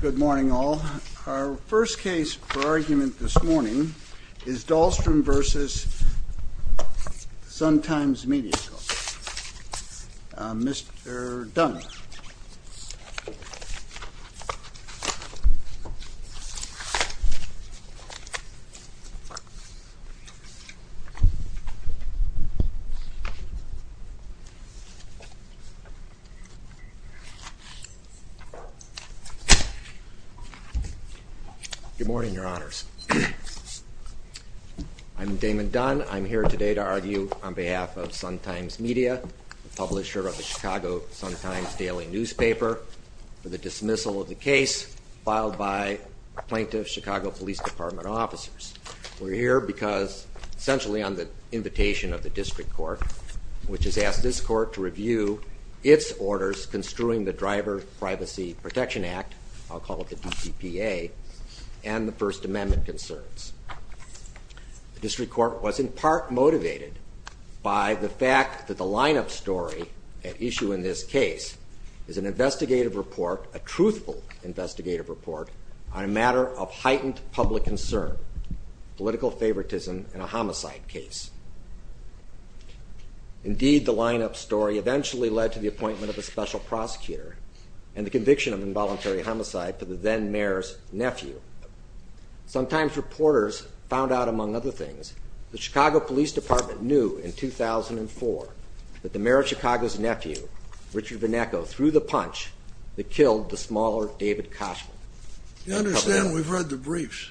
Good morning, all. Our first case for argument this morning is Dahlstrom v. Sun-Times Media, Mr. Dunn. Good morning, Your Honors. I'm Damon Dunn. I'm here today to argue on behalf of Sun-Times Media, the publisher of the Chicago Sun-Times Daily Newspaper, for the dismissal of the case filed by plaintiff's Chicago Police Department officers. We're here because, essentially on the invitation of the district court, which has asked this court to review its orders construing the Driver Privacy Protection Act, I'll call it the DCPA, and the First Amendment concerns. The district court was in part motivated by the fact that the lineup story at issue in this case is an investigative report, a truthful investigative report, on a matter of heightened public concern, political favoritism in a homicide case. Indeed, the lineup story eventually led to the appointment of a special prosecutor and the conviction of involuntary homicide for the then mayor's nephew. Sometimes reporters found out, among other things, the Chicago Police Department knew in 2004 that the mayor of Chicago's nephew, Richard Venneco, threw the punch that killed the smaller David Koshman. You understand we've read the briefs.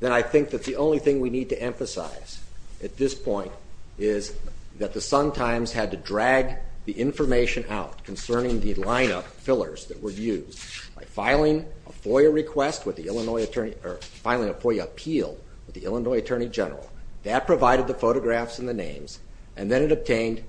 Then I think that the only thing we need to emphasize at this point is that the Sun-Times had to drag the information out concerning the lineup fillers that were used by filing a FOIA appeal with the Illinois Attorney General. That provided the photographs and the names, and then it obtained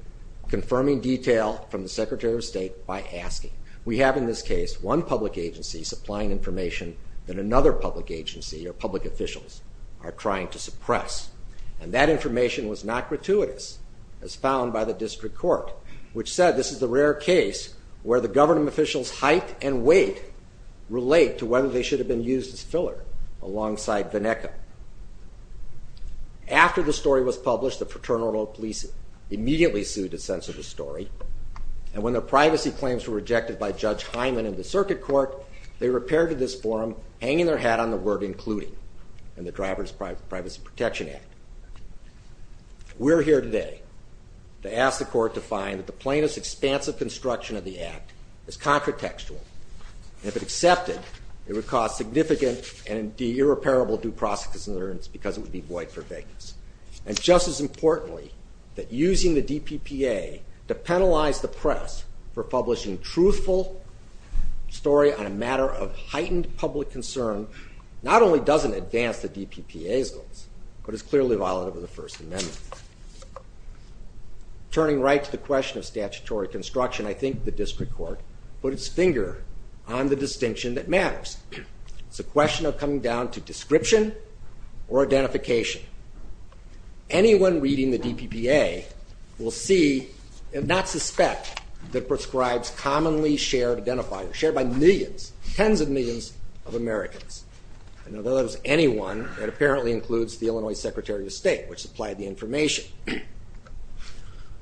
confirming detail from the Secretary of State by asking. We have in this case one public agency supplying information that another public agency or public officials are trying to suppress, and that information was not gratuitous as found by the district court, which said this is a rare case where the government officials' height and weight relate to whether they should have been used as filler alongside Venneco. After the story was published, the Fraternal Police immediately sued to censor the story, and when the privacy claims were rejected by Judge Hyman in the circuit court, they repaired to this forum, hanging their hat on the word including in the Driver's Privacy Protection Act. We're here today to ask the court to find that the plaintiff's expansive construction of the act is controtextual. If it accepted, it would cause significant and irreparable due process concerns because it would be void for vagueness. And just as importantly, that using the DPPA to penalize the press for publishing truthful story on a matter of heightened public concern not only doesn't advance the DPPA's goals, but is clearly violative of the First Amendment. Turning right to the question of statutory construction, I think the district court put its finger on the distinction that matters. It's a question of coming down to description or identification. Anyone reading the DPPA will see and not suspect that prescribes commonly shared identifiers, shared by millions, tens of millions of Americans. And although that was anyone, it apparently includes the Illinois Secretary of State, which supplied the information.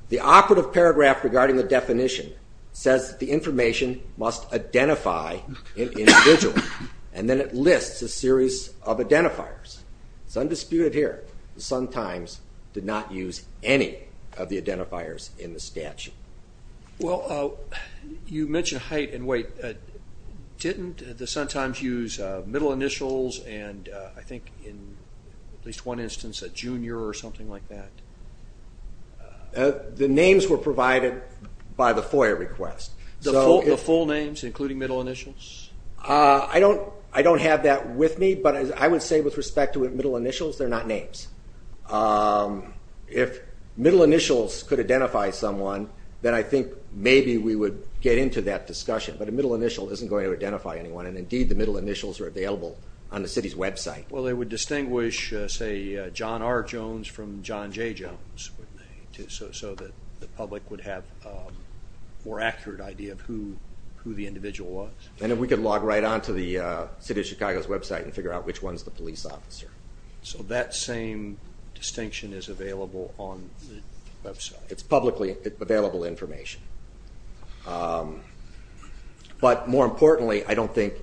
The operative paragraph regarding the definition says that the information must identify an individual, and then it lists a series of identifiers. It's undisputed here, the Sun-Times did not use any of the identifiers in the statute. Well, you mentioned height and weight. Didn't the Sun-Times use middle initials and, I think in at least one instance, a junior or something like that? The names were provided by the FOIA request. The full names, including middle initials? I don't have that with me, but I would say with respect to middle initials, they're not names. If middle initials could identify someone, then I think maybe we would get into that discussion. But a middle initial isn't going to identify anyone, and indeed the middle initials are available on the city's website. Well, they would distinguish, say, John R. Jones from John J. Jones, so the public would have a more accurate idea of who the individual was. And we could log right on to the city of Chicago's website and figure out which one's the police officer. So that same distinction is available on the website? It's publicly available information. But more importantly, I don't think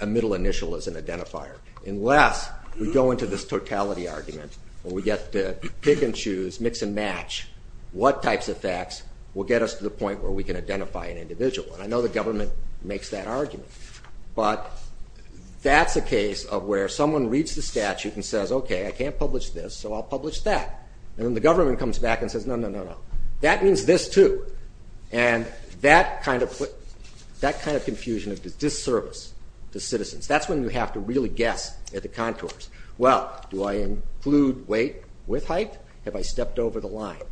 a middle initial is an identifier, unless we go into this totality argument and we get to pick and choose, mix and match what types of facts will get us to the point where we can identify an individual. And I know the government makes that argument. But that's a case of where someone reads the statute and says, okay, I can't publish this, so I'll publish that. And then the government comes back and says, no, no, no, no, that means this, too. And that kind of confusion of disservice to citizens, that's when you have to really guess at the contours. Well, do I include weight with height? Have I stepped over the line?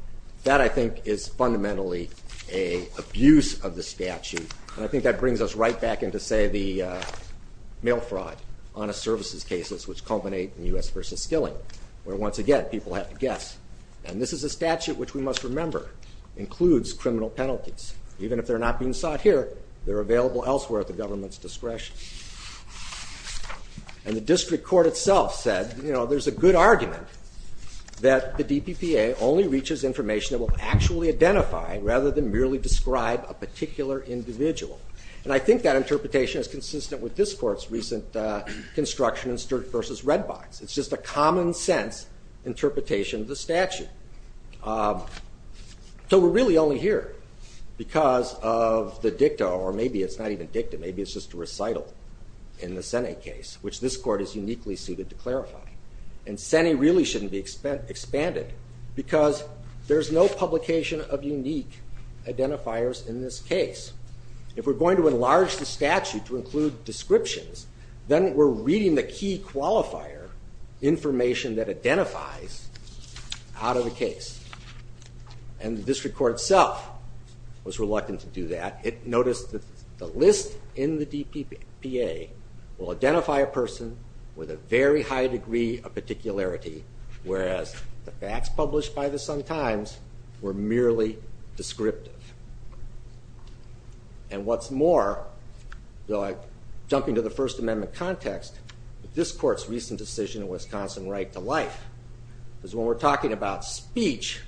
That, I think, is fundamentally an abuse of the statute. And I think that brings us right back into, say, the mail fraud, honest services cases, which culminate in U.S. v. Skilling, where, once again, people have to guess. And this is a statute which we must remember includes criminal penalties. Even if they're not being sought here, they're available elsewhere at the government's discretion. And the district court itself said, you know, there's a good argument that the DPPA only reaches information that will actually identify, rather than merely describe, a particular individual. And I think that interpretation is consistent with this court's recent construction in Sturt v. Redbox. It's just a common sense interpretation of the statute. So we're really only here because of the dicta, or maybe it's not even dicta, maybe it's just a recital in the Sene case, which this court is uniquely suited to clarify. And Sene really shouldn't be expanded because there's no publication of unique identifiers in this case. If we're going to enlarge the statute to include descriptions, then we're reading the key qualifier information that identifies out of the case. And the district court itself was reluctant to do that. It noticed that the list in the DPPA will identify a person with a very high degree of particularity, whereas the facts published by the Sun-Times were merely descriptive. And what's more, jumping to the First Amendment context, this court's recent decision in Wisconsin right to life is when we're talking about speech,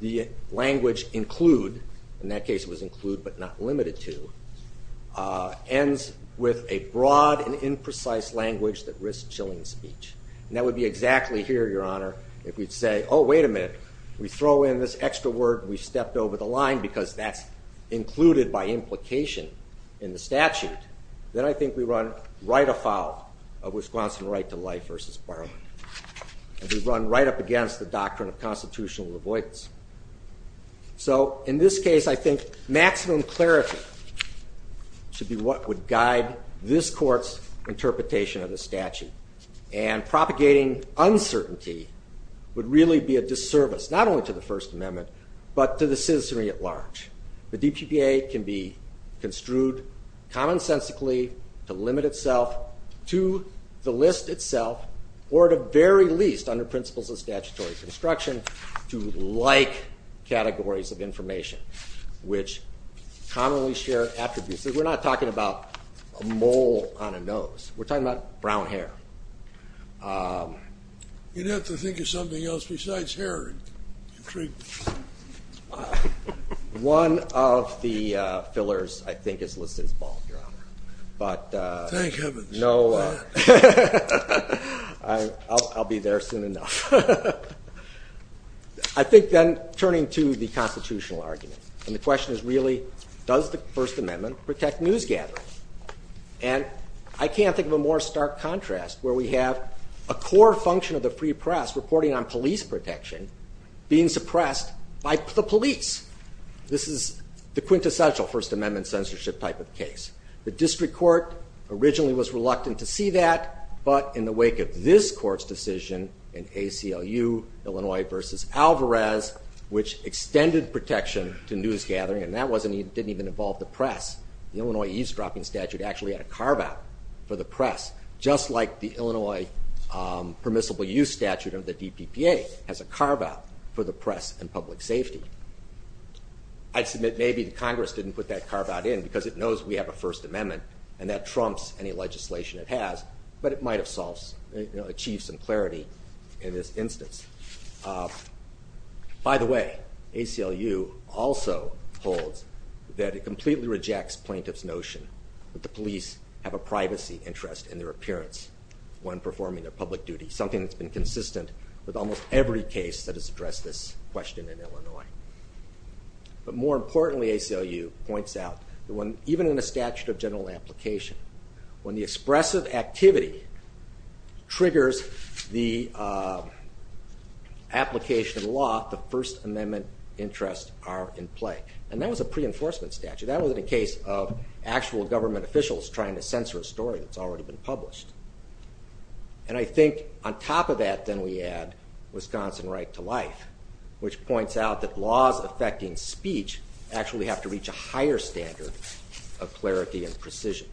the language include, in that case it was include but not limited to, ends with a broad and imprecise language that risks chilling speech. And that would be exactly here, Your Honor, if we'd say, oh, wait a minute, we throw in this extra word, we've stepped over the line because that's included by implication in the statute, then I think we run right afoul of Wisconsin right to life v. Barlow. We run right up against the doctrine of constitutional avoidance. So in this case, I think maximum clarity should be what would guide this court's interpretation of the statute. And propagating uncertainty would really be a disservice, not only to the First Amendment, the DPPA can be construed commonsensically to limit itself to the list itself, or at the very least under principles of statutory construction to like categories of information, which commonly share attributes. We're not talking about a mole on a nose. We're talking about brown hair. You'd have to think of something else besides hair. Intriguing. One of the fillers, I think, is listed as bald, Your Honor. Thank heavens. I'll be there soon enough. I think then turning to the constitutional argument, and the question is really, does the First Amendment protect news gatherings? And I can't think of a more stark contrast where we have a core function of the free press reporting on police protection being suppressed by the police. This is the quintessential First Amendment censorship type of case. The district court originally was reluctant to see that, but in the wake of this court's decision in ACLU, Illinois v. Alvarez, which extended protection to news gathering, and that didn't even involve the press. The Illinois eavesdropping statute actually had a carve-out for the press, just like the Illinois permissible use statute of the DPPA has a carve-out for the press and public safety. I submit maybe the Congress didn't put that carve-out in because it knows we have a First Amendment and that trumps any legislation it has, but it might have achieved some clarity in this instance. By the way, ACLU also holds that it completely rejects plaintiff's notion that the police have a privacy interest in their appearance when performing their public duty, something that's been consistent with almost every case that has addressed this question in Illinois. But more importantly, ACLU points out that even in a statute of general application, when the expressive activity triggers the application of the law, the First Amendment interests are in play, and that was a pre-enforcement statute. That wasn't a case of actual government officials trying to censor a story that's already been published. And I think on top of that, then we add Wisconsin right to life, which points out that laws affecting speech actually have to reach a higher standard of clarity and precision.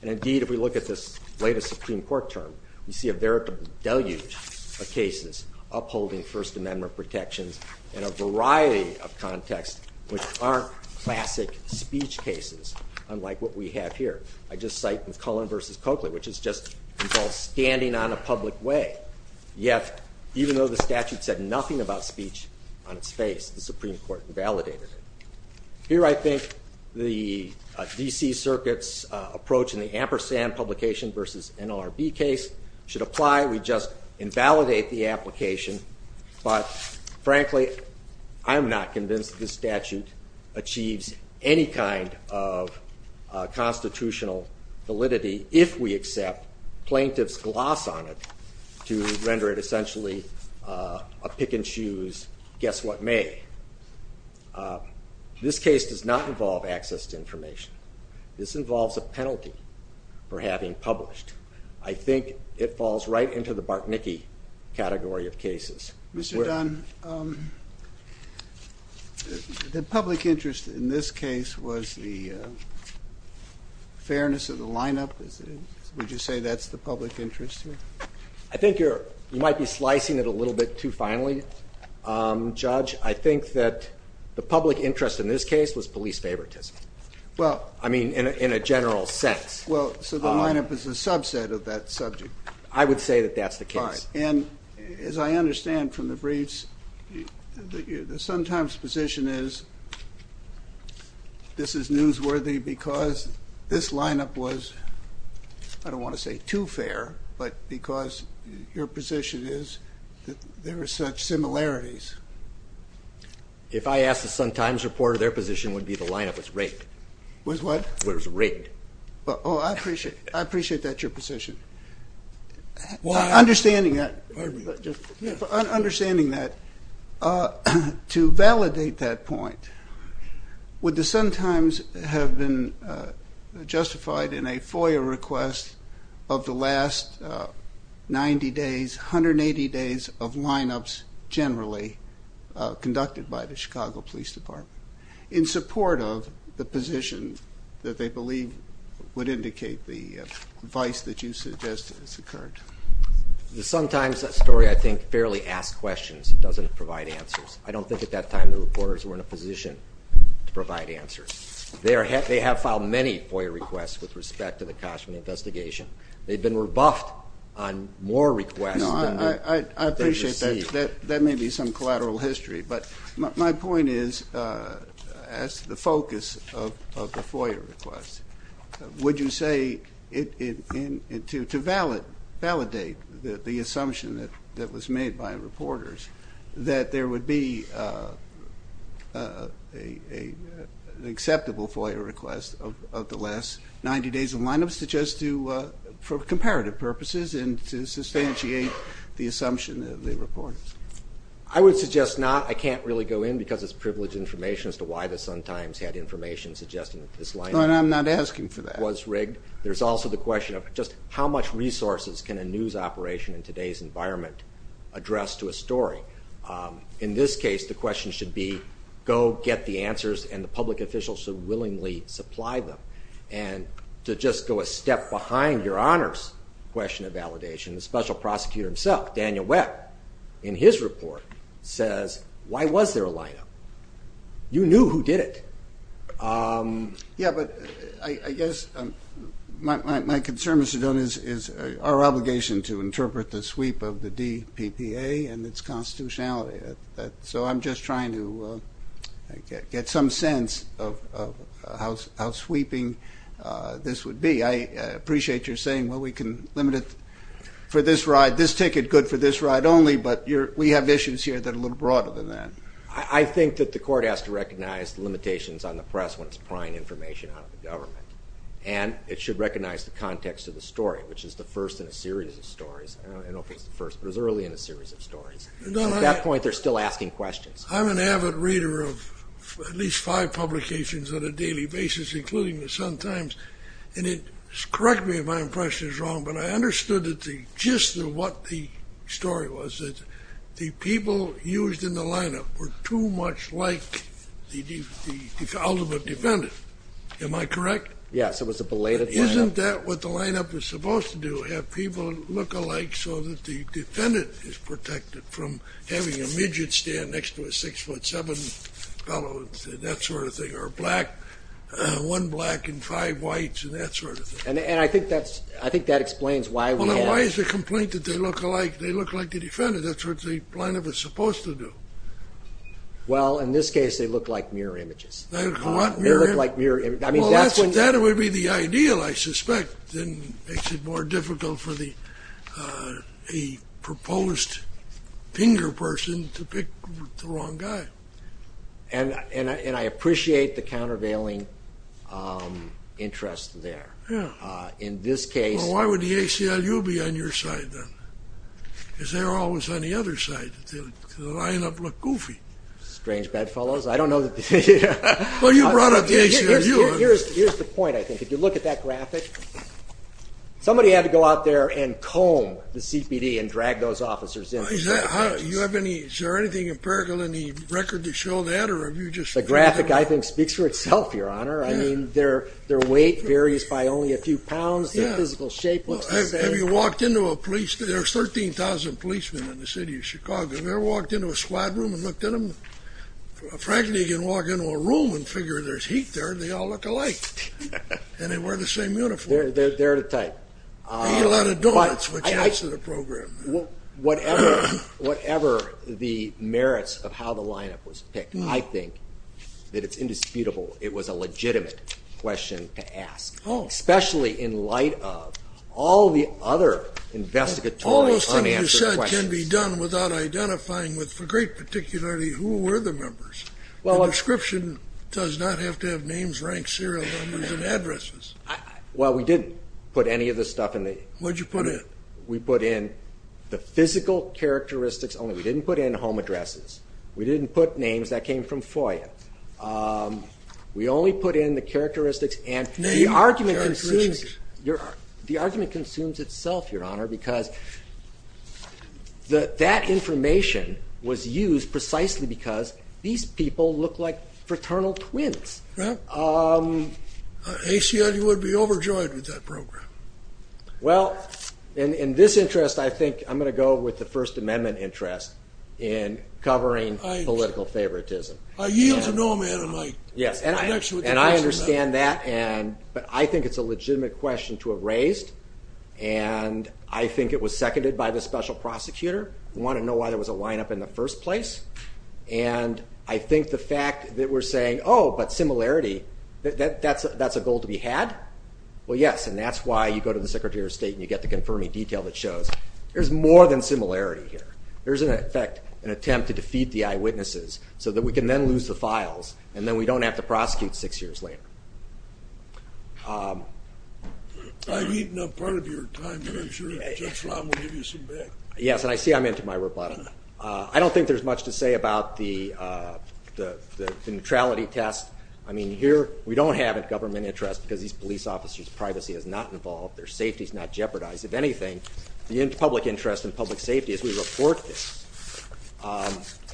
And indeed, if we look at this latest Supreme Court term, we see a veritable deluge of cases upholding First Amendment protections in a variety of contexts which aren't classic speech cases, unlike what we have here. I just cite McClellan v. Coakley, which is just involved standing on a public way, yet even though the statute said nothing about speech on its face, the Supreme Court validated it. Here I think the D.C. Circuit's approach in the Ampersand publication v. NLRB case should apply. We just invalidate the application. But frankly, I'm not convinced this statute achieves any kind of constitutional validity if we accept plaintiffs' gloss on it to render it essentially a pick and choose, guess what may. This case does not involve access to information. This involves a penalty for having published. I think it falls right into the Bartnicki category of cases. Mr. Dunn, the public interest in this case was the fairness of the lineup. Would you say that's the public interest here? I think you might be slicing it a little bit too finely, Judge. I think that the public interest in this case was police favoritism, I mean, in a general sense. Well, so the lineup is a subset of that subject. I would say that that's the case. And as I understand from the briefs, the Sun-Times position is this is newsworthy because this lineup was, I don't want to say too fair, but because your position is that there are such similarities. If I asked a Sun-Times reporter, their position would be the lineup was rigged. Was what? Was rigged. Oh, I appreciate that, your position. Understanding that, to validate that point, would the Sun-Times have been justified in a FOIA request of the last 90 days, 180 days of lineups generally conducted by the Chicago Police Department in support of the position that they believe would indicate the vice that you suggest has occurred? The Sun-Times story, I think, fairly asks questions. It doesn't provide answers. I don't think at that time the reporters were in a position to provide answers. They have filed many FOIA requests with respect to the Kashman investigation. They've been rebuffed on more requests than they've received. I appreciate that. That may be some collateral history. But my point is, as to the focus of the FOIA request, would you say to validate the assumption that was made by reporters that there would be an acceptable FOIA request of the last 90 days of lineups to just do for comparative purposes and to substantiate the assumption of the reporters? I would suggest not. I can't really go in because it's privileged information as to why the Sun-Times had information suggesting that this lineup was rigged. But I'm not asking for that. There's also the question of just how much resources can a news operation in today's environment address to a story? In this case, the question should be go get the answers and the public officials should willingly supply them. And to just go a step behind your honors question of validation, the special prosecutor himself, Daniel Webb, in his report says, why was there a lineup? You knew who did it. Yeah, but I guess my concern, Mr. Jones, is our obligation to interpret the sweep of the DPPA and its constitutionality. So I'm just trying to get some sense of how sweeping this would be. I appreciate your saying, well, we can limit it for this ride. This ticket, good for this ride only, but we have issues here that are a little broader than that. I think that the court has to recognize the limitations on the press when it's prying information out of the government. And it should recognize the context of the story, which is the first in a series of stories. I don't know if it's the first, but it was early in a series of stories. At that point, they're still asking questions. I'm an avid reader of at least five publications on a daily basis, including the Sun-Times. And correct me if my impression is wrong, but I understood the gist of what the story was, that the people used in the lineup were too much like the ultimate defendant. Am I correct? Yes, it was a belated lineup. Isn't that what the lineup is supposed to do, have people look alike so that the defendant is protected from having a midget stand next to a 6'7 fellow, that sort of thing, or one black and five whites and that sort of thing? And I think that explains why we had— Well, now, why is the complaint that they look like the defendant? That's what the lineup is supposed to do. Well, in this case, they look like mirror images. They look like mirror images. Well, that would be the ideal, I suspect. It makes it more difficult for the proposed finger person to pick the wrong guy. And I appreciate the countervailing interest there. Yeah. In this case— Well, why would the ACLU be on your side then? Because they were always on the other side. The lineup looked goofy. Strange bedfellows. I don't know. Well, you brought up the ACLU. Here's the point, I think. If you look at that graphic, somebody had to go out there and comb the CPD and drag those officers in. Is there anything empirical in the record to show that? The graphic, I think, speaks for itself, Your Honor. I mean, their weight varies by only a few pounds. Their physical shape looks the same. Have you walked into a police— There are 13,000 policemen in the city of Chicago. Have you ever walked into a squad room and looked at them? Frankly, you can walk into a room and figure there's heat there, and they all look alike. And they wear the same uniform. They're the type. They eat a lot of donuts, which adds to the program. Whatever the merits of how the lineup was picked, I think that it's indisputable it was a legitimate question to ask, especially in light of all the other investigatory unanswered questions. But all those things you said can be done without identifying with, for great particularity, who were the members. A description does not have to have names, ranks, serial numbers, and addresses. Well, we didn't put any of this stuff in the— What did you put in? We put in the physical characteristics only. We didn't put in home addresses. We didn't put names. That came from FOIA. We only put in the characteristics and— Name characteristics. The argument consumes itself, Your Honor, because that information was used precisely because these people look like fraternal twins. Right. HCI would be overjoyed with that program. Well, in this interest, I think I'm going to go with the First Amendment interest in covering political favoritism. I yield to no man am I. Yes, and I understand that, but I think it's a legitimate question to have raised, and I think it was seconded by the special prosecutor. We want to know why there was a lineup in the first place, and I think the fact that we're saying, oh, but similarity, that's a goal to be had? Well, yes, and that's why you go to the Secretary of State and you get the confirming detail that shows there's more than similarity here. There is, in effect, an attempt to defeat the eyewitnesses so that we can then lose the files, and then we don't have to prosecute six years later. I've eaten up part of your time, but I'm sure Judge Lam will give you some back. Yes, and I see I'm into my rebuttal. I don't think there's much to say about the neutrality test. I mean, here we don't have a government interest because these police officers' privacy is not involved, their safety is not jeopardized. If anything, the public interest and public safety is we report this,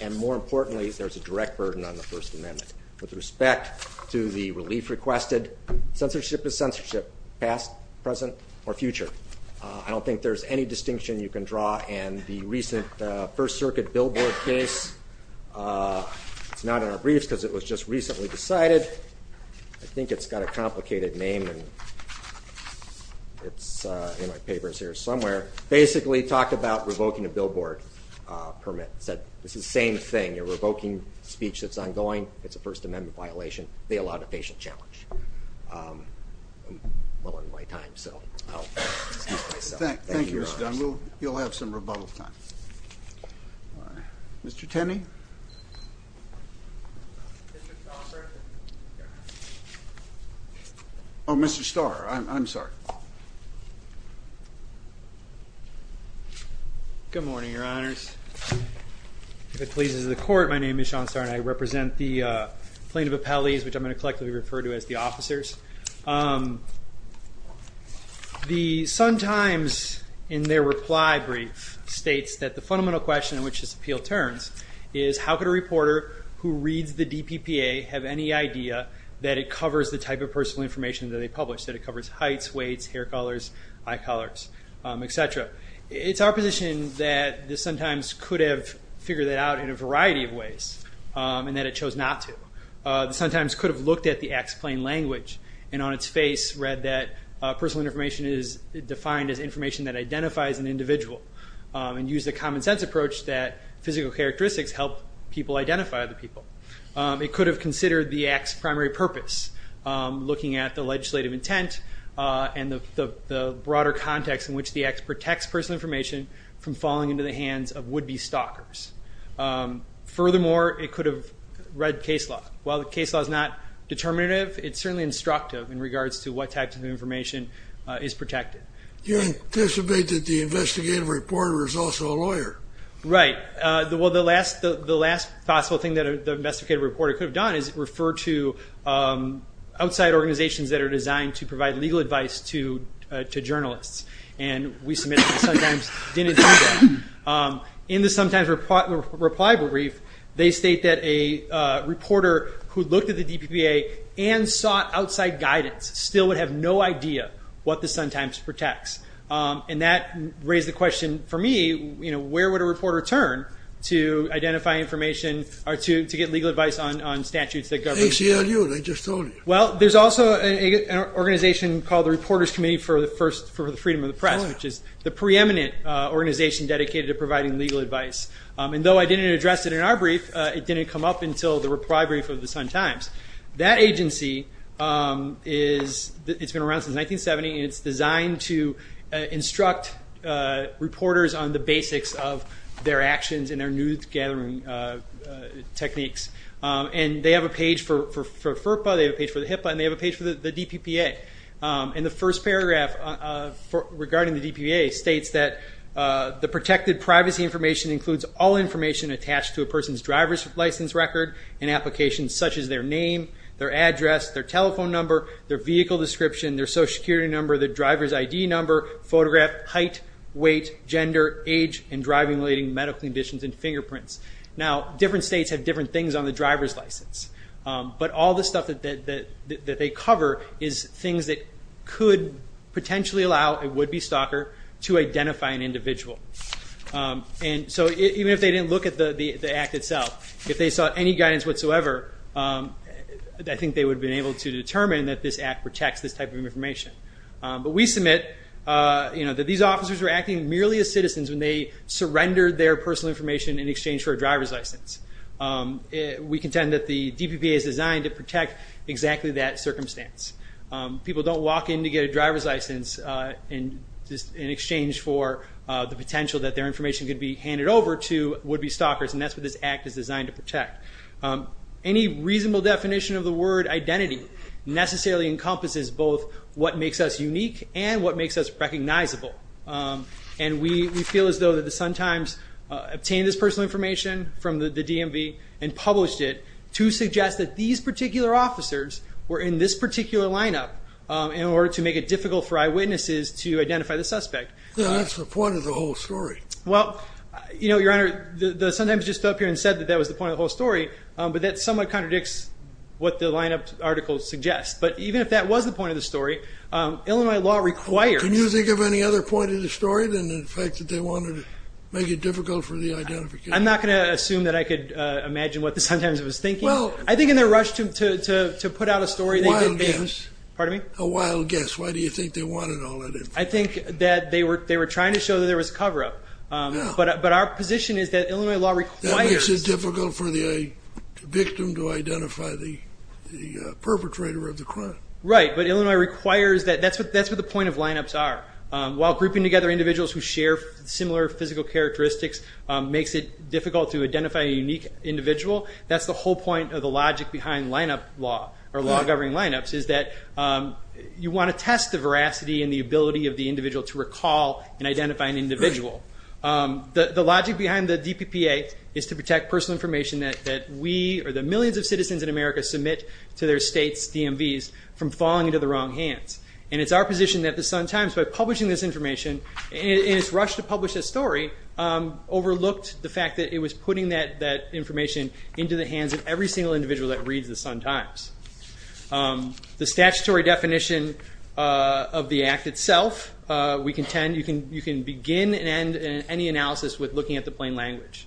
and more importantly, there's a direct burden on the First Amendment. With respect to the relief requested, censorship is censorship, past, present, or future. I don't think there's any distinction you can draw, and the recent First Circuit billboard case, it's not in our briefs because it was just recently decided. I think it's got a complicated name, and it's in my papers here somewhere. Basically, it talked about revoking a billboard permit. It said it's the same thing. You're revoking speech that's ongoing. It's a First Amendment violation. They allowed a patient challenge. I'm low on my time, so I'll excuse myself. Thank you, Mr. Dunn. You'll have some rebuttal time. Mr. Tenney? Oh, Mr. Starr. I'm sorry. Good morning, Your Honors. If it pleases the court, my name is Sean Starr, and I represent the plaintiff appellees, which I'm going to collectively refer to as the officers. The Sun Times, in their reply brief, states that the fundamental question in which this appeal turns is how could a reporter who reads the DPPA have any idea that it covers the type of personal information that they publish, that it covers heights, weights, hair colors, eye colors, et cetera. It's our position that the Sun Times could have figured that out in a variety of ways, and that it chose not to. The Sun Times could have looked at the act's plain language and on its face read that personal information is defined as information that identifies an individual and used a common-sense approach that physical characteristics help people identify other people. It could have considered the act's primary purpose, looking at the legislative intent and the broader context in which the act protects personal information from falling into the hands of would-be stalkers. Furthermore, it could have read case law. While the case law is not determinative, it's certainly instructive in regards to what types of information is protected. You anticipate that the investigative reporter is also a lawyer. Right. The last possible thing that the investigative reporter could have done is refer to outside organizations that are designed to provide legal advice to journalists. We submit that the Sun Times didn't do that. In the Sun Times reply brief, they state that a reporter who looked at the DPPA and sought outside guidance still would have no idea what the Sun Times protects. That raised the question for me, where would a reporter turn to identify information or to get legal advice on statutes that govern... ACLU, I just told you. There's also an organization called the Reporters Committee for the Freedom of the Press, which is the preeminent organization dedicated to providing legal advice. Though I didn't address it in our brief, it didn't come up until the reply brief of the Sun Times. That agency has been around since 1970, and it's designed to instruct reporters on the basics of their actions and their news-gathering techniques. They have a page for FERPA, they have a page for the HIPAA, and they have a page for the DPPA. The first paragraph regarding the DPPA states that the protected privacy information includes all information attached to a person's driver's license record and applications such as their name, their address, their telephone number, their vehicle description, their Social Security number, their driver's ID number, photograph, height, weight, gender, age, and driving-related medical conditions and fingerprints. Different states have different things on the driver's license, but all the stuff that they cover is things that could potentially allow a would-be stalker to identify an individual. So even if they didn't look at the act itself, if they saw any guidance whatsoever, I think they would have been able to determine that this act protects this type of information. But we submit that these officers were acting merely as citizens when they surrendered their personal information in exchange for a driver's license. We contend that the DPPA is designed to protect exactly that circumstance. People don't walk in to get a driver's license in exchange for the potential that their information could be handed over to would-be stalkers, and that's what this act is designed to protect. Any reasonable definition of the word identity necessarily encompasses both what makes us unique and what makes us recognizable. And we feel as though the Sun-Times obtained this personal information from the DMV and published it to suggest that these particular officers were in this particular lineup in order to make it difficult for eyewitnesses to identify the suspect. Well, that's the point of the whole story. Well, Your Honor, the Sun-Times just stood up here and said that that was the point of the whole story, but that somewhat contradicts what the lineup article suggests. But even if that was the point of the story, Illinois law requires... Can you think of any other point of the story than the fact that they wanted to make it difficult for the identification? I'm not going to assume that I could imagine what the Sun-Times was thinking. I think in their rush to put out a story... A wild guess. Why do you think they wanted all that information? I think that they were trying to show that there was cover-up. But our position is that Illinois law requires... That makes it difficult for the victim to identify the perpetrator of the crime. Right, but Illinois requires that. That's what the point of lineups are. While grouping together individuals who share similar physical characteristics makes it difficult to identify a unique individual, that's the whole point of the logic behind lineup law or law governing lineups is that you want to test the veracity and the ability of the individual to recall and identify an individual. The logic behind the DPPA is to protect personal information that we or the millions of citizens in America submit to their state's DMVs from falling into the wrong hands. And it's our position that the Sun-Times, by publishing this information in its rush to publish this story, overlooked the fact that it was putting that information into the hands of every single individual that reads the Sun-Times. The statutory definition of the Act itself, you can begin and end any analysis with looking at the plain language.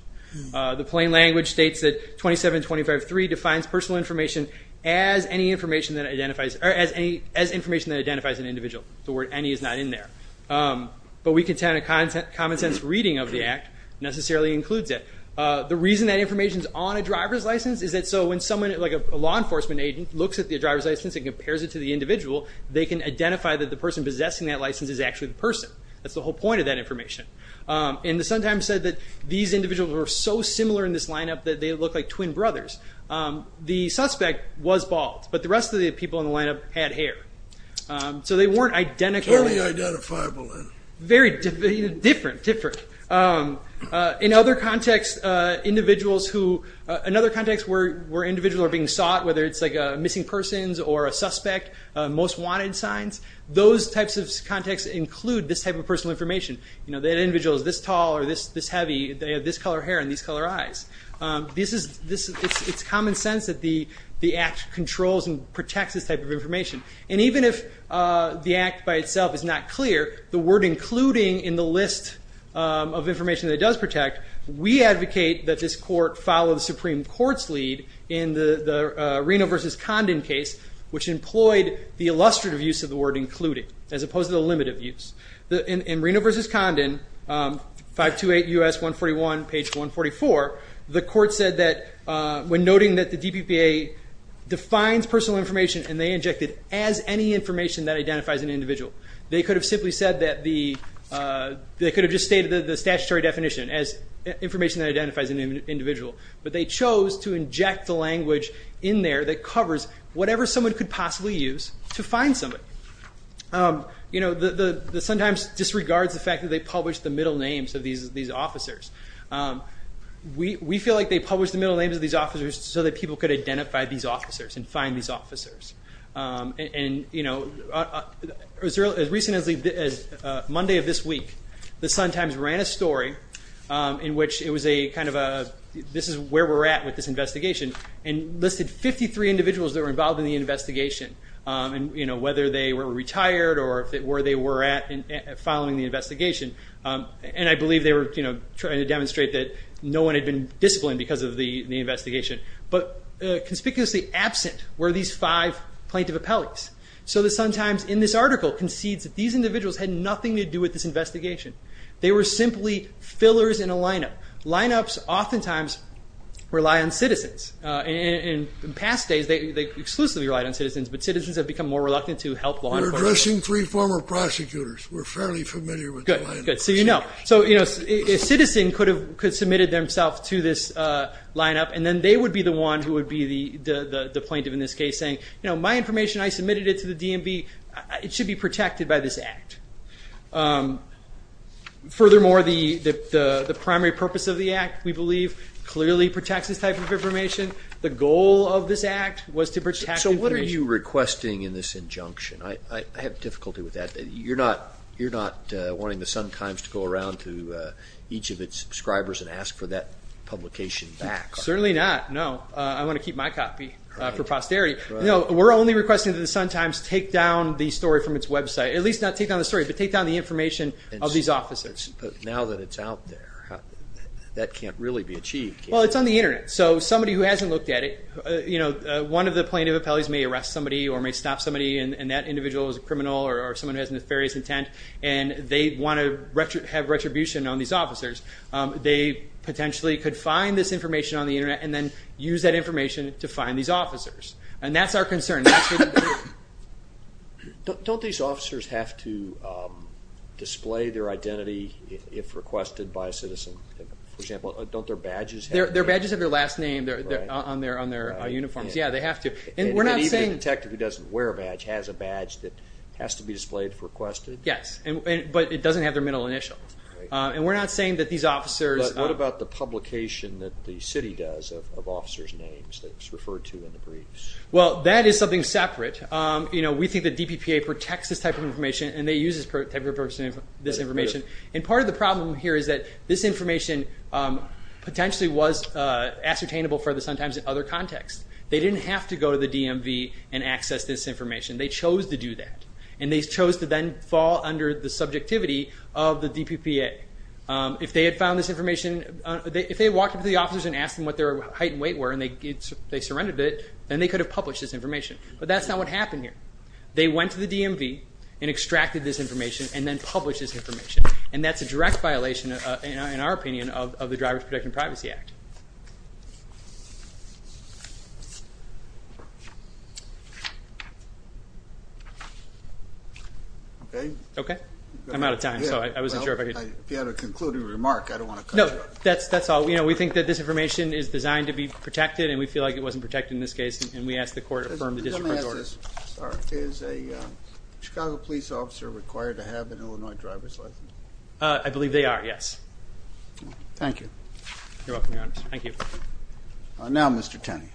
The plain language states that 2725.3 defines personal information as information that identifies an individual. The word any is not in there. But we contend a common sense reading of the Act necessarily includes it. The reason that information is on a driver's license is that so when someone, like a law enforcement agent, looks at the driver's license and compares it to the individual, they can identify that the person possessing that license is actually the person. That's the whole point of that information. And the Sun-Times said that these individuals were so similar in this lineup that they looked like twin brothers. The suspect was bald, but the rest of the people in the lineup had hair. So they weren't identical. Very different. In other contexts, where individuals are being sought, whether it's missing persons or a suspect, most wanted signs, those types of contexts include this type of personal information. That individual is this tall or this heavy, they have this color hair and these color eyes. It's common sense that the Act controls and protects this type of information. And even if the Act by itself is not clear, the word including in the list of information that it does protect, we advocate that this court follow the Supreme Court's lead in the Reno v. Condon case, which employed the illustrative use of the word including as opposed to the limited use. In Reno v. Condon, 528 U.S. 141, page 144, the court said that when noting that the DPPA defines personal information and they inject it as any information that identifies an individual. They could have simply stated the statutory definition as information that identifies an individual. But they chose to inject the language in there that covers whatever someone could possibly use to find somebody. The Sun-Times disregards the fact that they published the middle names of these officers. We feel like they published the middle names of these officers so that people could identify these officers and find these officers. As recently as Monday of this week, the Sun-Times ran a story in which this is where we're at with this investigation and listed 53 individuals that were involved in the investigation whether they were retired or where they were at following the investigation. I believe they were trying to demonstrate that no one had been disciplined because of the investigation. But conspicuously absent were these five plaintiff appellees. So the Sun-Times in this article concedes that these individuals had nothing to do with this investigation. Lineups oftentimes rely on citizens. In past days, they exclusively relied on citizens, but citizens have become more reluctant to help law enforcement. We're addressing three former prosecutors. We're fairly familiar with the lineup. A citizen could have submitted themselves to this lineup and then they would be the one who would be the plaintiff in this case saying, my information, I submitted it to the DMV. It should be protected by this act. Furthermore, the primary purpose of the act, we believe, clearly protects this type of information. The goal of this act was to protect information. So what are you requesting in this injunction? I have difficulty with that. You're not wanting the Sun-Times to go around to each of its subscribers and ask for that publication back, are you? Certainly not, no. I want to keep my copy for posterity. We're only requesting that the Sun-Times take down the story from its website. At least not take down the story, but take down the information of these officers. But now that it's out there, that can't really be achieved, can it? Well, it's on the Internet. So somebody who hasn't looked at it, one of the plaintiff appellees may arrest somebody or may stop somebody and that individual is a criminal or someone who has nefarious intent and they want to have retribution on these officers. They potentially could find this information on the Internet and then use that information to find these officers. And that's our concern. Don't these officers have to display their identity if requested by a citizen? For example, don't their badges have to? Their badges have their last name on their uniforms. And even a detective who doesn't wear a badge has a badge that has to be displayed if requested? Yes, but it doesn't have their middle initial. But what about the publication that the city does of officers' names that's referred to in the briefs? Well, that is something separate. We think the DPPA protects this type of information and they use this type of information. And part of the problem here is that this information potentially was ascertainable for the sometimes other context. They didn't have to go to the DMV and access this information. They chose to do that. And they chose to then fall under the subjectivity of the DPPA. If they had walked up to the officers and asked them what their height and weight were and they surrendered it, then they could have published this information. But that's not what happened here. They went to the DMV and extracted this information and then published this information. And that's a direct violation, in our opinion, of the Drivers Protecting Privacy Act. Okay? I'm out of time. If you have a concluding remark, I don't want to cut you off. No, that's all. We think that this information is designed to be protected and we feel like it wasn't protected in this case. Let me ask this. Is a Chicago police officer required to have an Illinois driver's license? I believe they are, yes. Thank you. Now Mr. Tenney.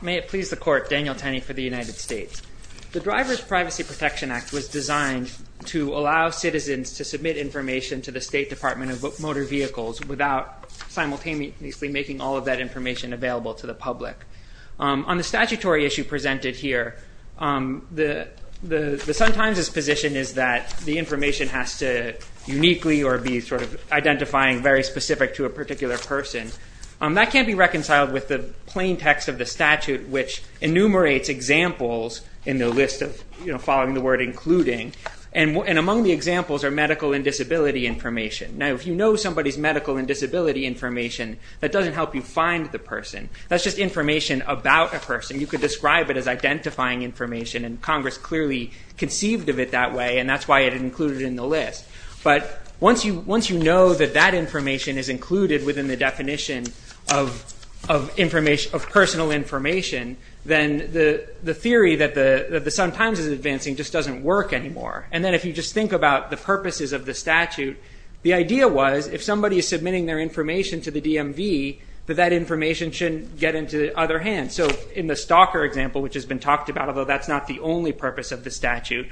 May it please the court, Daniel Tenney for the United States. The Drivers Privacy Protection Act was designed to allow citizens to submit information to the State Department of Motor Vehicles without simultaneously making all of that information available to the public. On the statutory issue presented here, the Sun-Times' position is that the information has to uniquely or be sort of identifying very specific information to a particular person. That can't be reconciled with the plain text of the statute which enumerates examples in the list following the word including. Among the examples are medical and disability information. Now if you know somebody's medical and disability information, that doesn't help you find the person. That's just information about a person. You could describe it as identifying information and Congress clearly conceived of it that way and that's why it included it in the list. But once you know that that information is included within the definition of personal information, then the theory that the Sun-Times is advancing just doesn't work anymore. And then if you just think about the purposes of the statute, the idea was if somebody is submitting their information to the DMV, that that information shouldn't get into the other hand. In the stalker example, which has been talked about, although that's not the only purpose of the statute,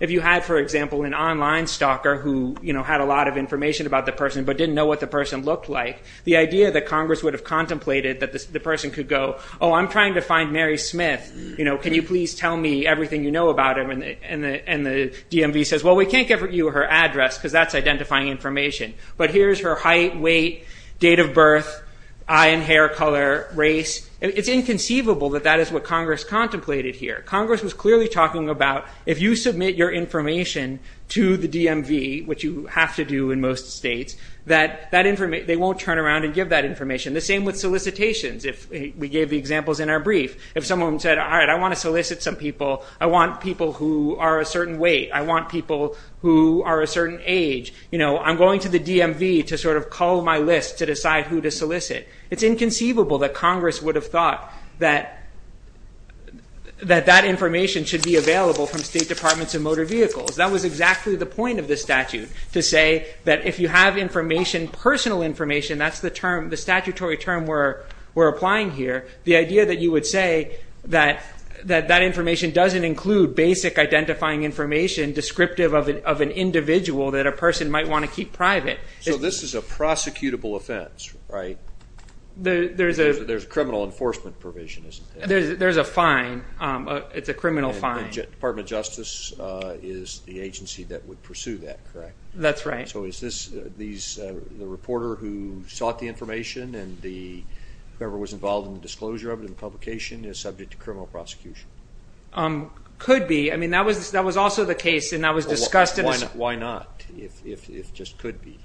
if you had, for example, an online stalker who had a lot of information about the person but didn't know what the person looked like, the idea that Congress would have contemplated that the person could go, oh, I'm trying to find Mary Smith. Can you please tell me everything you know about her? And the DMV says, well, we can't give you her address because that's identifying information. But here's her height, weight, date of birth, eye and hair color, race. It's inconceivable that that is what Congress contemplated here. Congress was clearly talking about if you submit your information to the DMV, which you have to do in most states, that they won't turn around and give that information. The same with solicitations. We gave the examples in our brief. If someone said, all right, I want to solicit some people. I want people who are a certain weight. I want people who are a certain age. I'm going to the DMV to sort of call my list to decide who to solicit. It's inconceivable that Congress would have thought that that information should be available from state departments of motor vehicles. That was exactly the point of the statute, to say that if you have information, personal information, that's the statutory term we're applying here. The idea that you would say that that information doesn't include basic identifying information descriptive of an individual that a person might want to keep private. So this is a prosecutable offense, right? There's criminal enforcement provision, isn't there? There's a fine. It's a criminal fine. Department of Justice is the agency that would pursue that, correct? That's right. The reporter who sought the information and whoever was involved in the disclosure of it and publication is subject to criminal prosecution. Could be. Why not, if it just could be?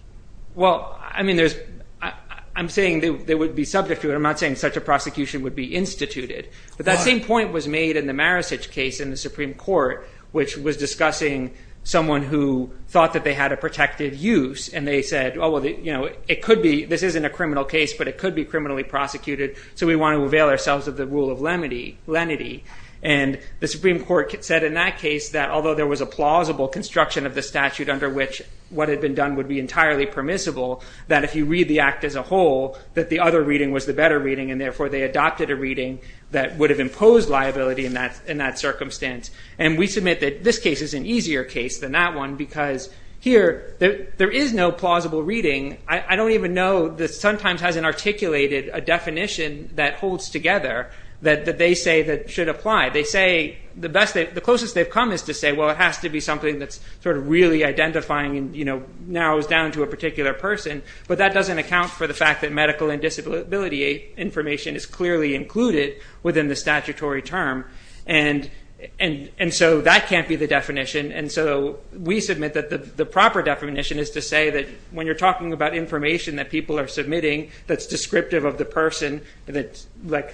I'm saying they would be subject to it. I'm not saying such a prosecution would be instituted. But that same point was made in the Maricich case in the Supreme Court, which was discussing someone who thought that they had a protected use and they said, this isn't a criminal case, but it could be criminally prosecuted, so we want to avail ourselves of the rule of lenity. The Supreme Court said in that case that although there was a plausible construction of the statute under which what had been done would be entirely permissible, that if you read the act as a whole, that the other reading was the better reading and therefore they adopted a reading that would have imposed liability in that circumstance. We submit that this case is an easier case than that one because here there is no plausible reading. I don't even know that sometimes has an articulated definition that holds together that they say should apply. The closest they've come is to say, well, it has to be something that's really identifying and narrows down to a particular person, but that doesn't account for the fact that medical and disability information is clearly included within the statutory term. And so that can't be the definition and so we submit that the proper definition is to say that when you're talking about information that people are submitting that's descriptive of the person, that's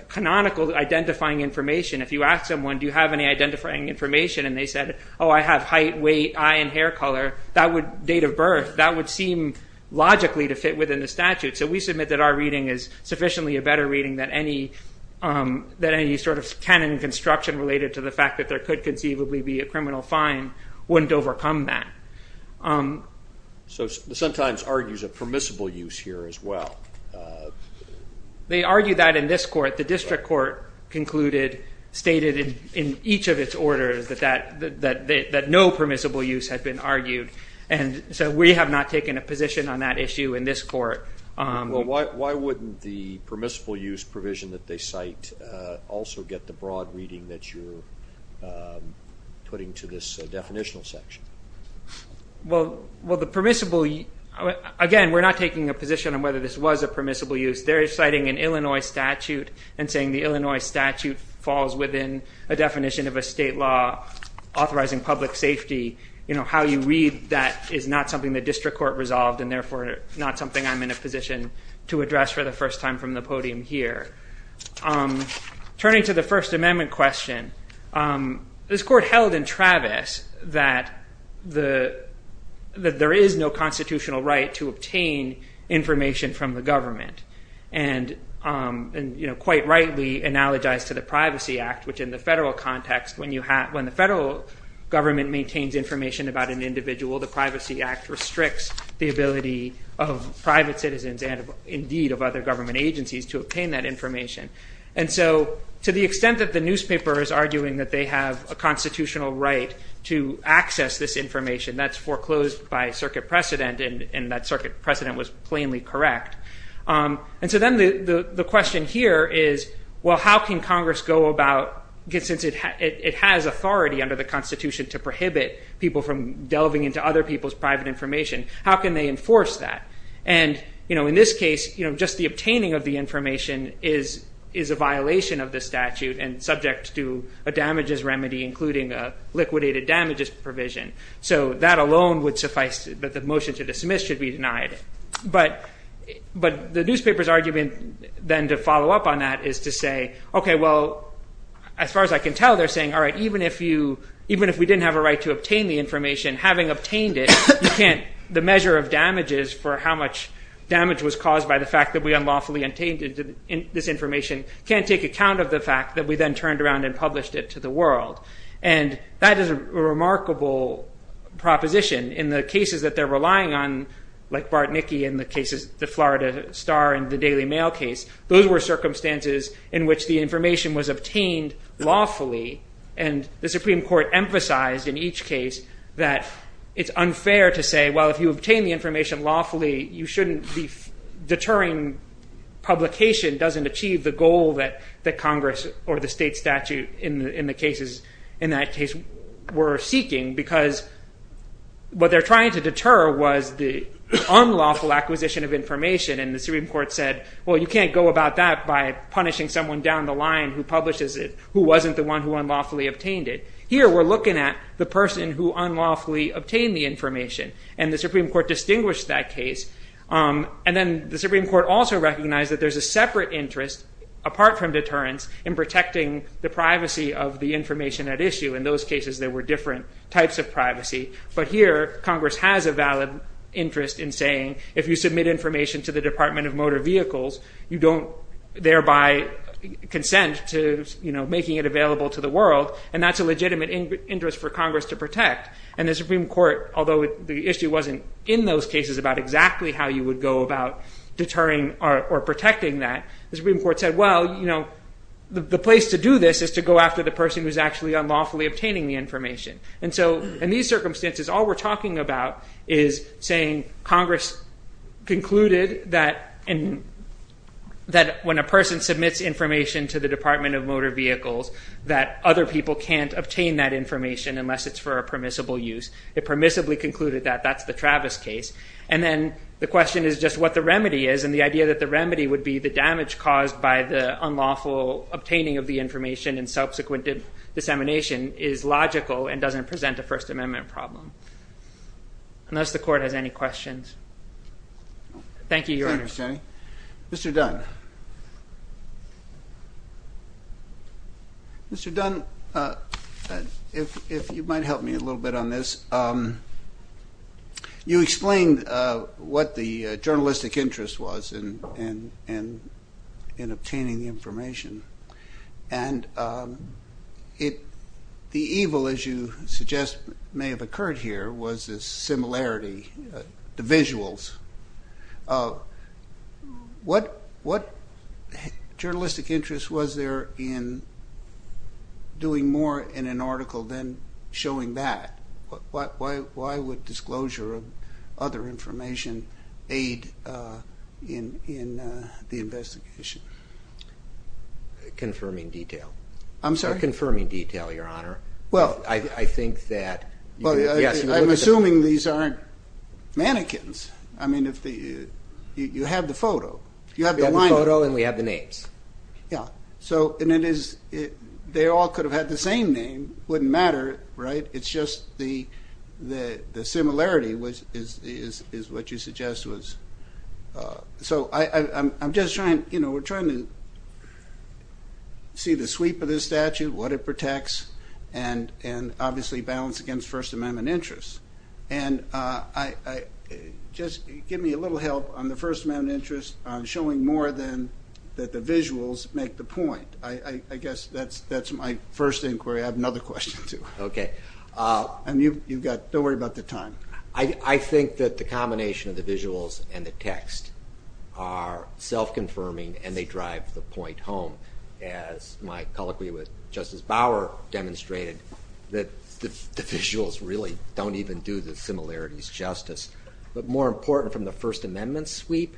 canonical identifying information, if you ask someone, do you have any identifying information, and they said, oh, I have height, weight, eye and hair color, that would date of birth, that would seem logically to fit within the statute, so we submit that our reading is sufficiently a better reading that any sort of canon construction related to the fact that there could conceivably be a criminal fine wouldn't overcome that. So sometimes argues a permissible use here as well. They argue that in this court, the district court concluded, stated in each of its orders, that no permissible use had been argued, and so we have not taken a position on that issue in this court. Well, why wouldn't the permissible use provision that they cite also get the broad reading that you're putting to this definitional section? Well, again, we're not taking a position on whether this was a permissible use. They're citing an Illinois statute and saying the Illinois statute falls within a definition of a state law authorizing public safety. How you read that is not something the district court resolved and therefore not something I'm in a position to address for the first time from the podium here. Turning to the First Amendment question, this court held in Travis that there is no constitutional right to obtain information from the government. And quite rightly analogized to the Privacy Act, which in the federal context, when the federal government maintains information about an individual, the Privacy Act restricts the ability of private citizens and, indeed, of other government agencies to obtain that information. And so to the extent that the newspaper is arguing that they have a constitutional right to access this information, that's foreclosed by circuit precedent and that circuit precedent was plainly correct. And so then the question here is, well, how can Congress go about, since it has authority under the Constitution to prohibit people from delving into other people's private information, how can they enforce that? And in this case, just the obtaining of the information is a violation of the statute and subject to a damages remedy including a liquidated damages provision. So that alone would suffice that the motion to dismiss should be denied. But the newspaper's argument then to follow up on that is to say, OK, well, as far as I can tell, they're saying, all right, even if we didn't have a right to obtain the information, having obtained it, the measure of damages for how much damage was caused by the fact that we unlawfully obtained this information can't take account of the fact that we then turned around and published it to the world. And that is a remarkable proposition in the cases that they're relying on like Bart Niki in the Florida Star and the Daily Mail case. Those were circumstances in which the information was obtained lawfully and the Supreme Court emphasized in each case that it's unfair to say, well, if you obtain the information lawfully, you shouldn't be deterring publication doesn't achieve the goal that Congress or the state statute in the cases in that case were seeking because what they're trying to deter was the unlawful acquisition of information. And the Supreme Court said, well, you can't go about that by punishing someone down the line who publishes it, who wasn't the one who unlawfully obtained it. Here, we're looking at the person who unlawfully obtained the information and the Supreme Court distinguished that case. And then the Supreme Court also recognized that there's a separate interest, apart from deterrence, in protecting the privacy of the information at issue. In those cases, there were different types of privacy. But here, Congress has a valid interest in saying if you submit information to the Department of Motor Vehicles, you don't thereby consent to making it available to the world. And that's a legitimate interest for Congress to protect. And the Supreme Court, although the issue wasn't in those cases about exactly how you would go about deterring or protecting that, the Supreme Court said, well, the place to do this is to go after the person who's actually unlawfully obtaining the information. And so, in these circumstances, all we're talking about is saying Congress concluded that when a person submits information to the Department of Motor Vehicles, that other people can't obtain that information unless it's for a permissible use. It permissibly concluded that. That's the Travis case. And then the question is just what the remedy is. And the idea that the remedy would be the damage caused by the unlawful obtaining of the information and subsequent dissemination is unless the Court has any questions. Thank you, Your Honor. Mr. Dunn. Mr. Dunn, if you might help me a little bit on this. You explained what the journalistic interest was in obtaining the information. And the evil, as you suggest, may have occurred here was this similarity to visuals. What journalistic interest was there in doing more in an article than showing that? Why would disclosure of other information aid in the investigation? Confirming detail. Confirming detail, Your Honor. I'm assuming these aren't mannequins. You have the photo. We have the photo and we have the names. They all could have had the same name. It wouldn't matter. It's just the similarity is what you suggest. We're trying to see the sweep of this statute, what it protects, and obviously balance against First Amendment interests. Just give me a little help on the First Amendment interest on showing more than that the visuals make the point. I guess that's my first inquiry. I have another question, too. Don't worry about the time. I think that the combination of the visuals and the text are self-confirming and they drive the point home. As my colloquy with Justice Bauer demonstrated, the visuals really don't even do the similarities justice. But more important from the First Amendment sweep,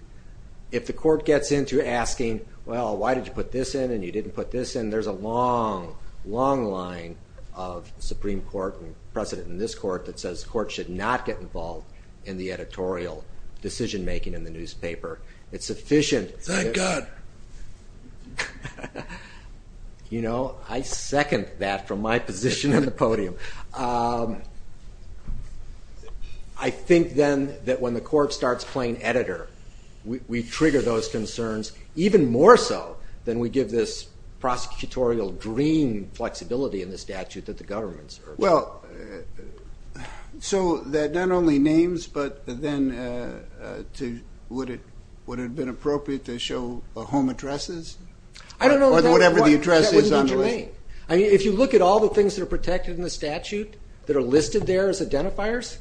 if the court gets into asking, well, why did you put this in and you didn't put this in, there's a long, long line of Supreme Court precedent in this court that says courts should not get involved in the It's efficient. Thank God. You know, I second that from my position on the podium. I think then that when the court starts playing editor, we trigger those concerns even more so than we give this prosecutorial dream flexibility So that not only names, but then would it have been appropriate to show home addresses? I don't know. If you look at all the things that are protected in the statute that are listed there as identifiers,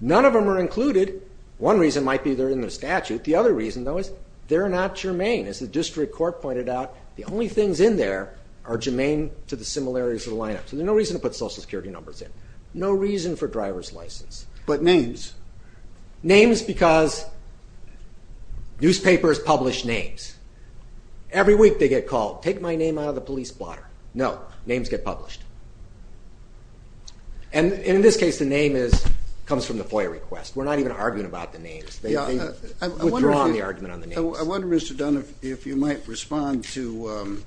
none of them are included. One reason might be they're in the statute. The other reason, though, is they're not germane. As the district court pointed out, the only things in there are germane to the similarities of the lineup. So there's no reason to put Social Security numbers in. No reason for driver's license. But names? Names because newspapers publish names. Every week they get called, take my name out of the police blotter. No. Names get published. In this case, the name comes from the FOIA request. We're not even arguing about the names. I wonder, Mr. Dunn, if you might respond to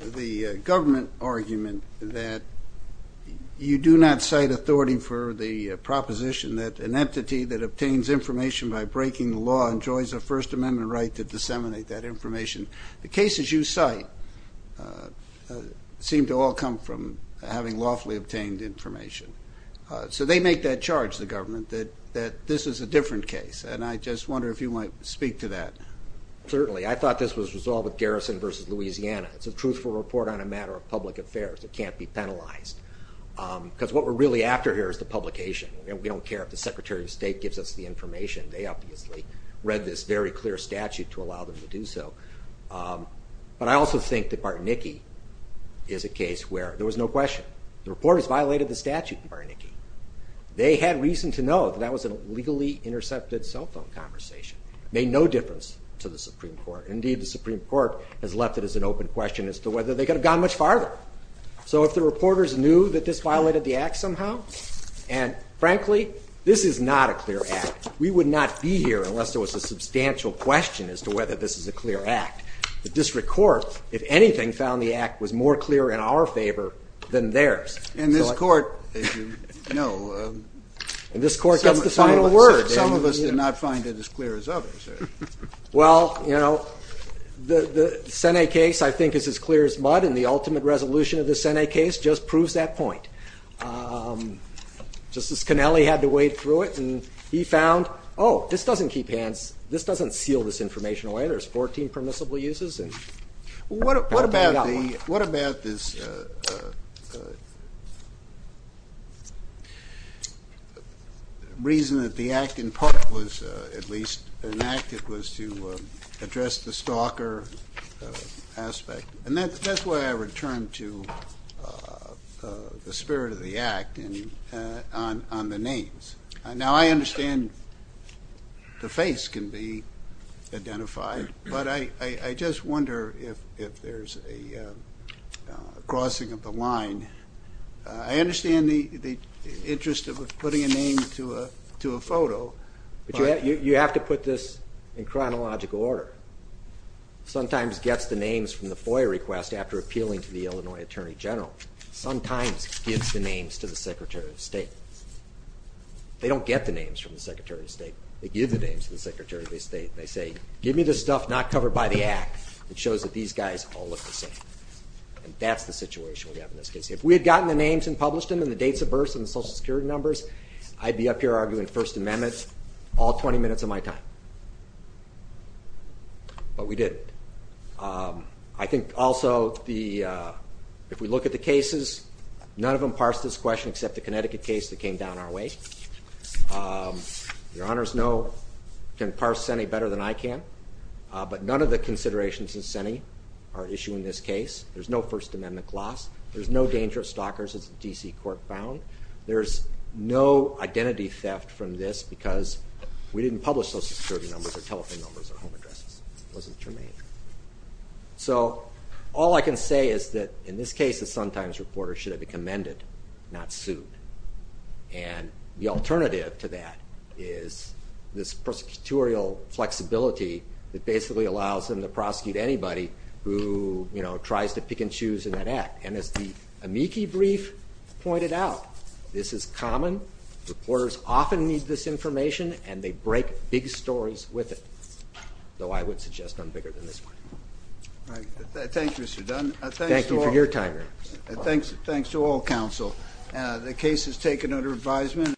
the government argument that you do not cite authority for the proposition that an entity that obtains information by breaking the law enjoys a First Amendment right to disseminate that information. The cases you cite seem to all come from having lawfully obtained information. So they make that charge, the government, that this is a different case. And I just wonder if you might speak to that. Certainly. I thought this was resolved with Garrison v. Louisiana. It's a truthful report on a matter of public affairs. It can't be penalized. Because what we're really after here is the publication. We don't care if the Secretary of State gives us the information. They obviously read this very clear statute to allow them to do so. But I also think that Bartnicki is a case where there was no question. The reporters violated the statute in Bartnicki. They had reason to know that that was a legally intercepted cell phone conversation. It made no sense to the Supreme Court. Indeed, the Supreme Court has left it as an open question as to whether they could have gone much farther. So if the reporters knew that this violated the Act somehow, and frankly, this is not a clear Act. We would not be here unless there was a substantial question as to whether this is a clear Act. The District Court, if anything, found the Act was more clear in our favor than theirs. And this Court, as you know, gets the final word. Some of us did not find it as clear as others. Well, you know, the Sene case I think is as clear as mud, and the ultimate resolution of the Sene case just proves that point. Justice Connelly had to wade through it, and he found oh, this doesn't keep hands, this doesn't seal this information away. There's 14 permissible uses. What about this reason that the Act, in part, was at least enacted was to address the stalker aspect. And that's why I returned to the spirit of the Act on the names. Now, I understand the face can be identified, but I just wonder if there's a crossing of the line. I understand the interest of putting a name to a photo. But you have to put this in chronological order. Sometimes gets the names from the FOIA request after appealing to the Illinois Attorney General. Sometimes gives the names to the Secretary of State. They don't get the names from the Secretary of State. They give the names to the Secretary of State. They say, give me the stuff not covered by the Act. It shows that these guys all look the same. That's the situation we have in this case. If we had gotten the names and published them and the dates of births and the Social Security numbers, I'd be up here arguing First Amendment all 20 minutes of my time. But we didn't. I think also if we look at the cases, none of them parse this question except the Connecticut case that came down our way. Your Honors know, can parse any better than I can. But none of the considerations in SENE are issued in this case. There's no First Amendment clause. There's no danger of stalkers as the D.C. Court found. There's no identity theft from this because we didn't publish Social Security numbers or telephone numbers or home addresses. It wasn't germane. So all I can say is that in this case, the Sun-Times reporter should have been commended, not sued. And the alternative to that is this prosecutorial flexibility that basically allows them to prosecute anybody who tries to pick and choose in that act. And as the amici brief pointed out, this is common. Reporters often need this information and they break big stories with it. Though I would suggest none bigger than this one. Thank you, Mr. Dunn. Thanks to all counsel. The case is taken under advisement.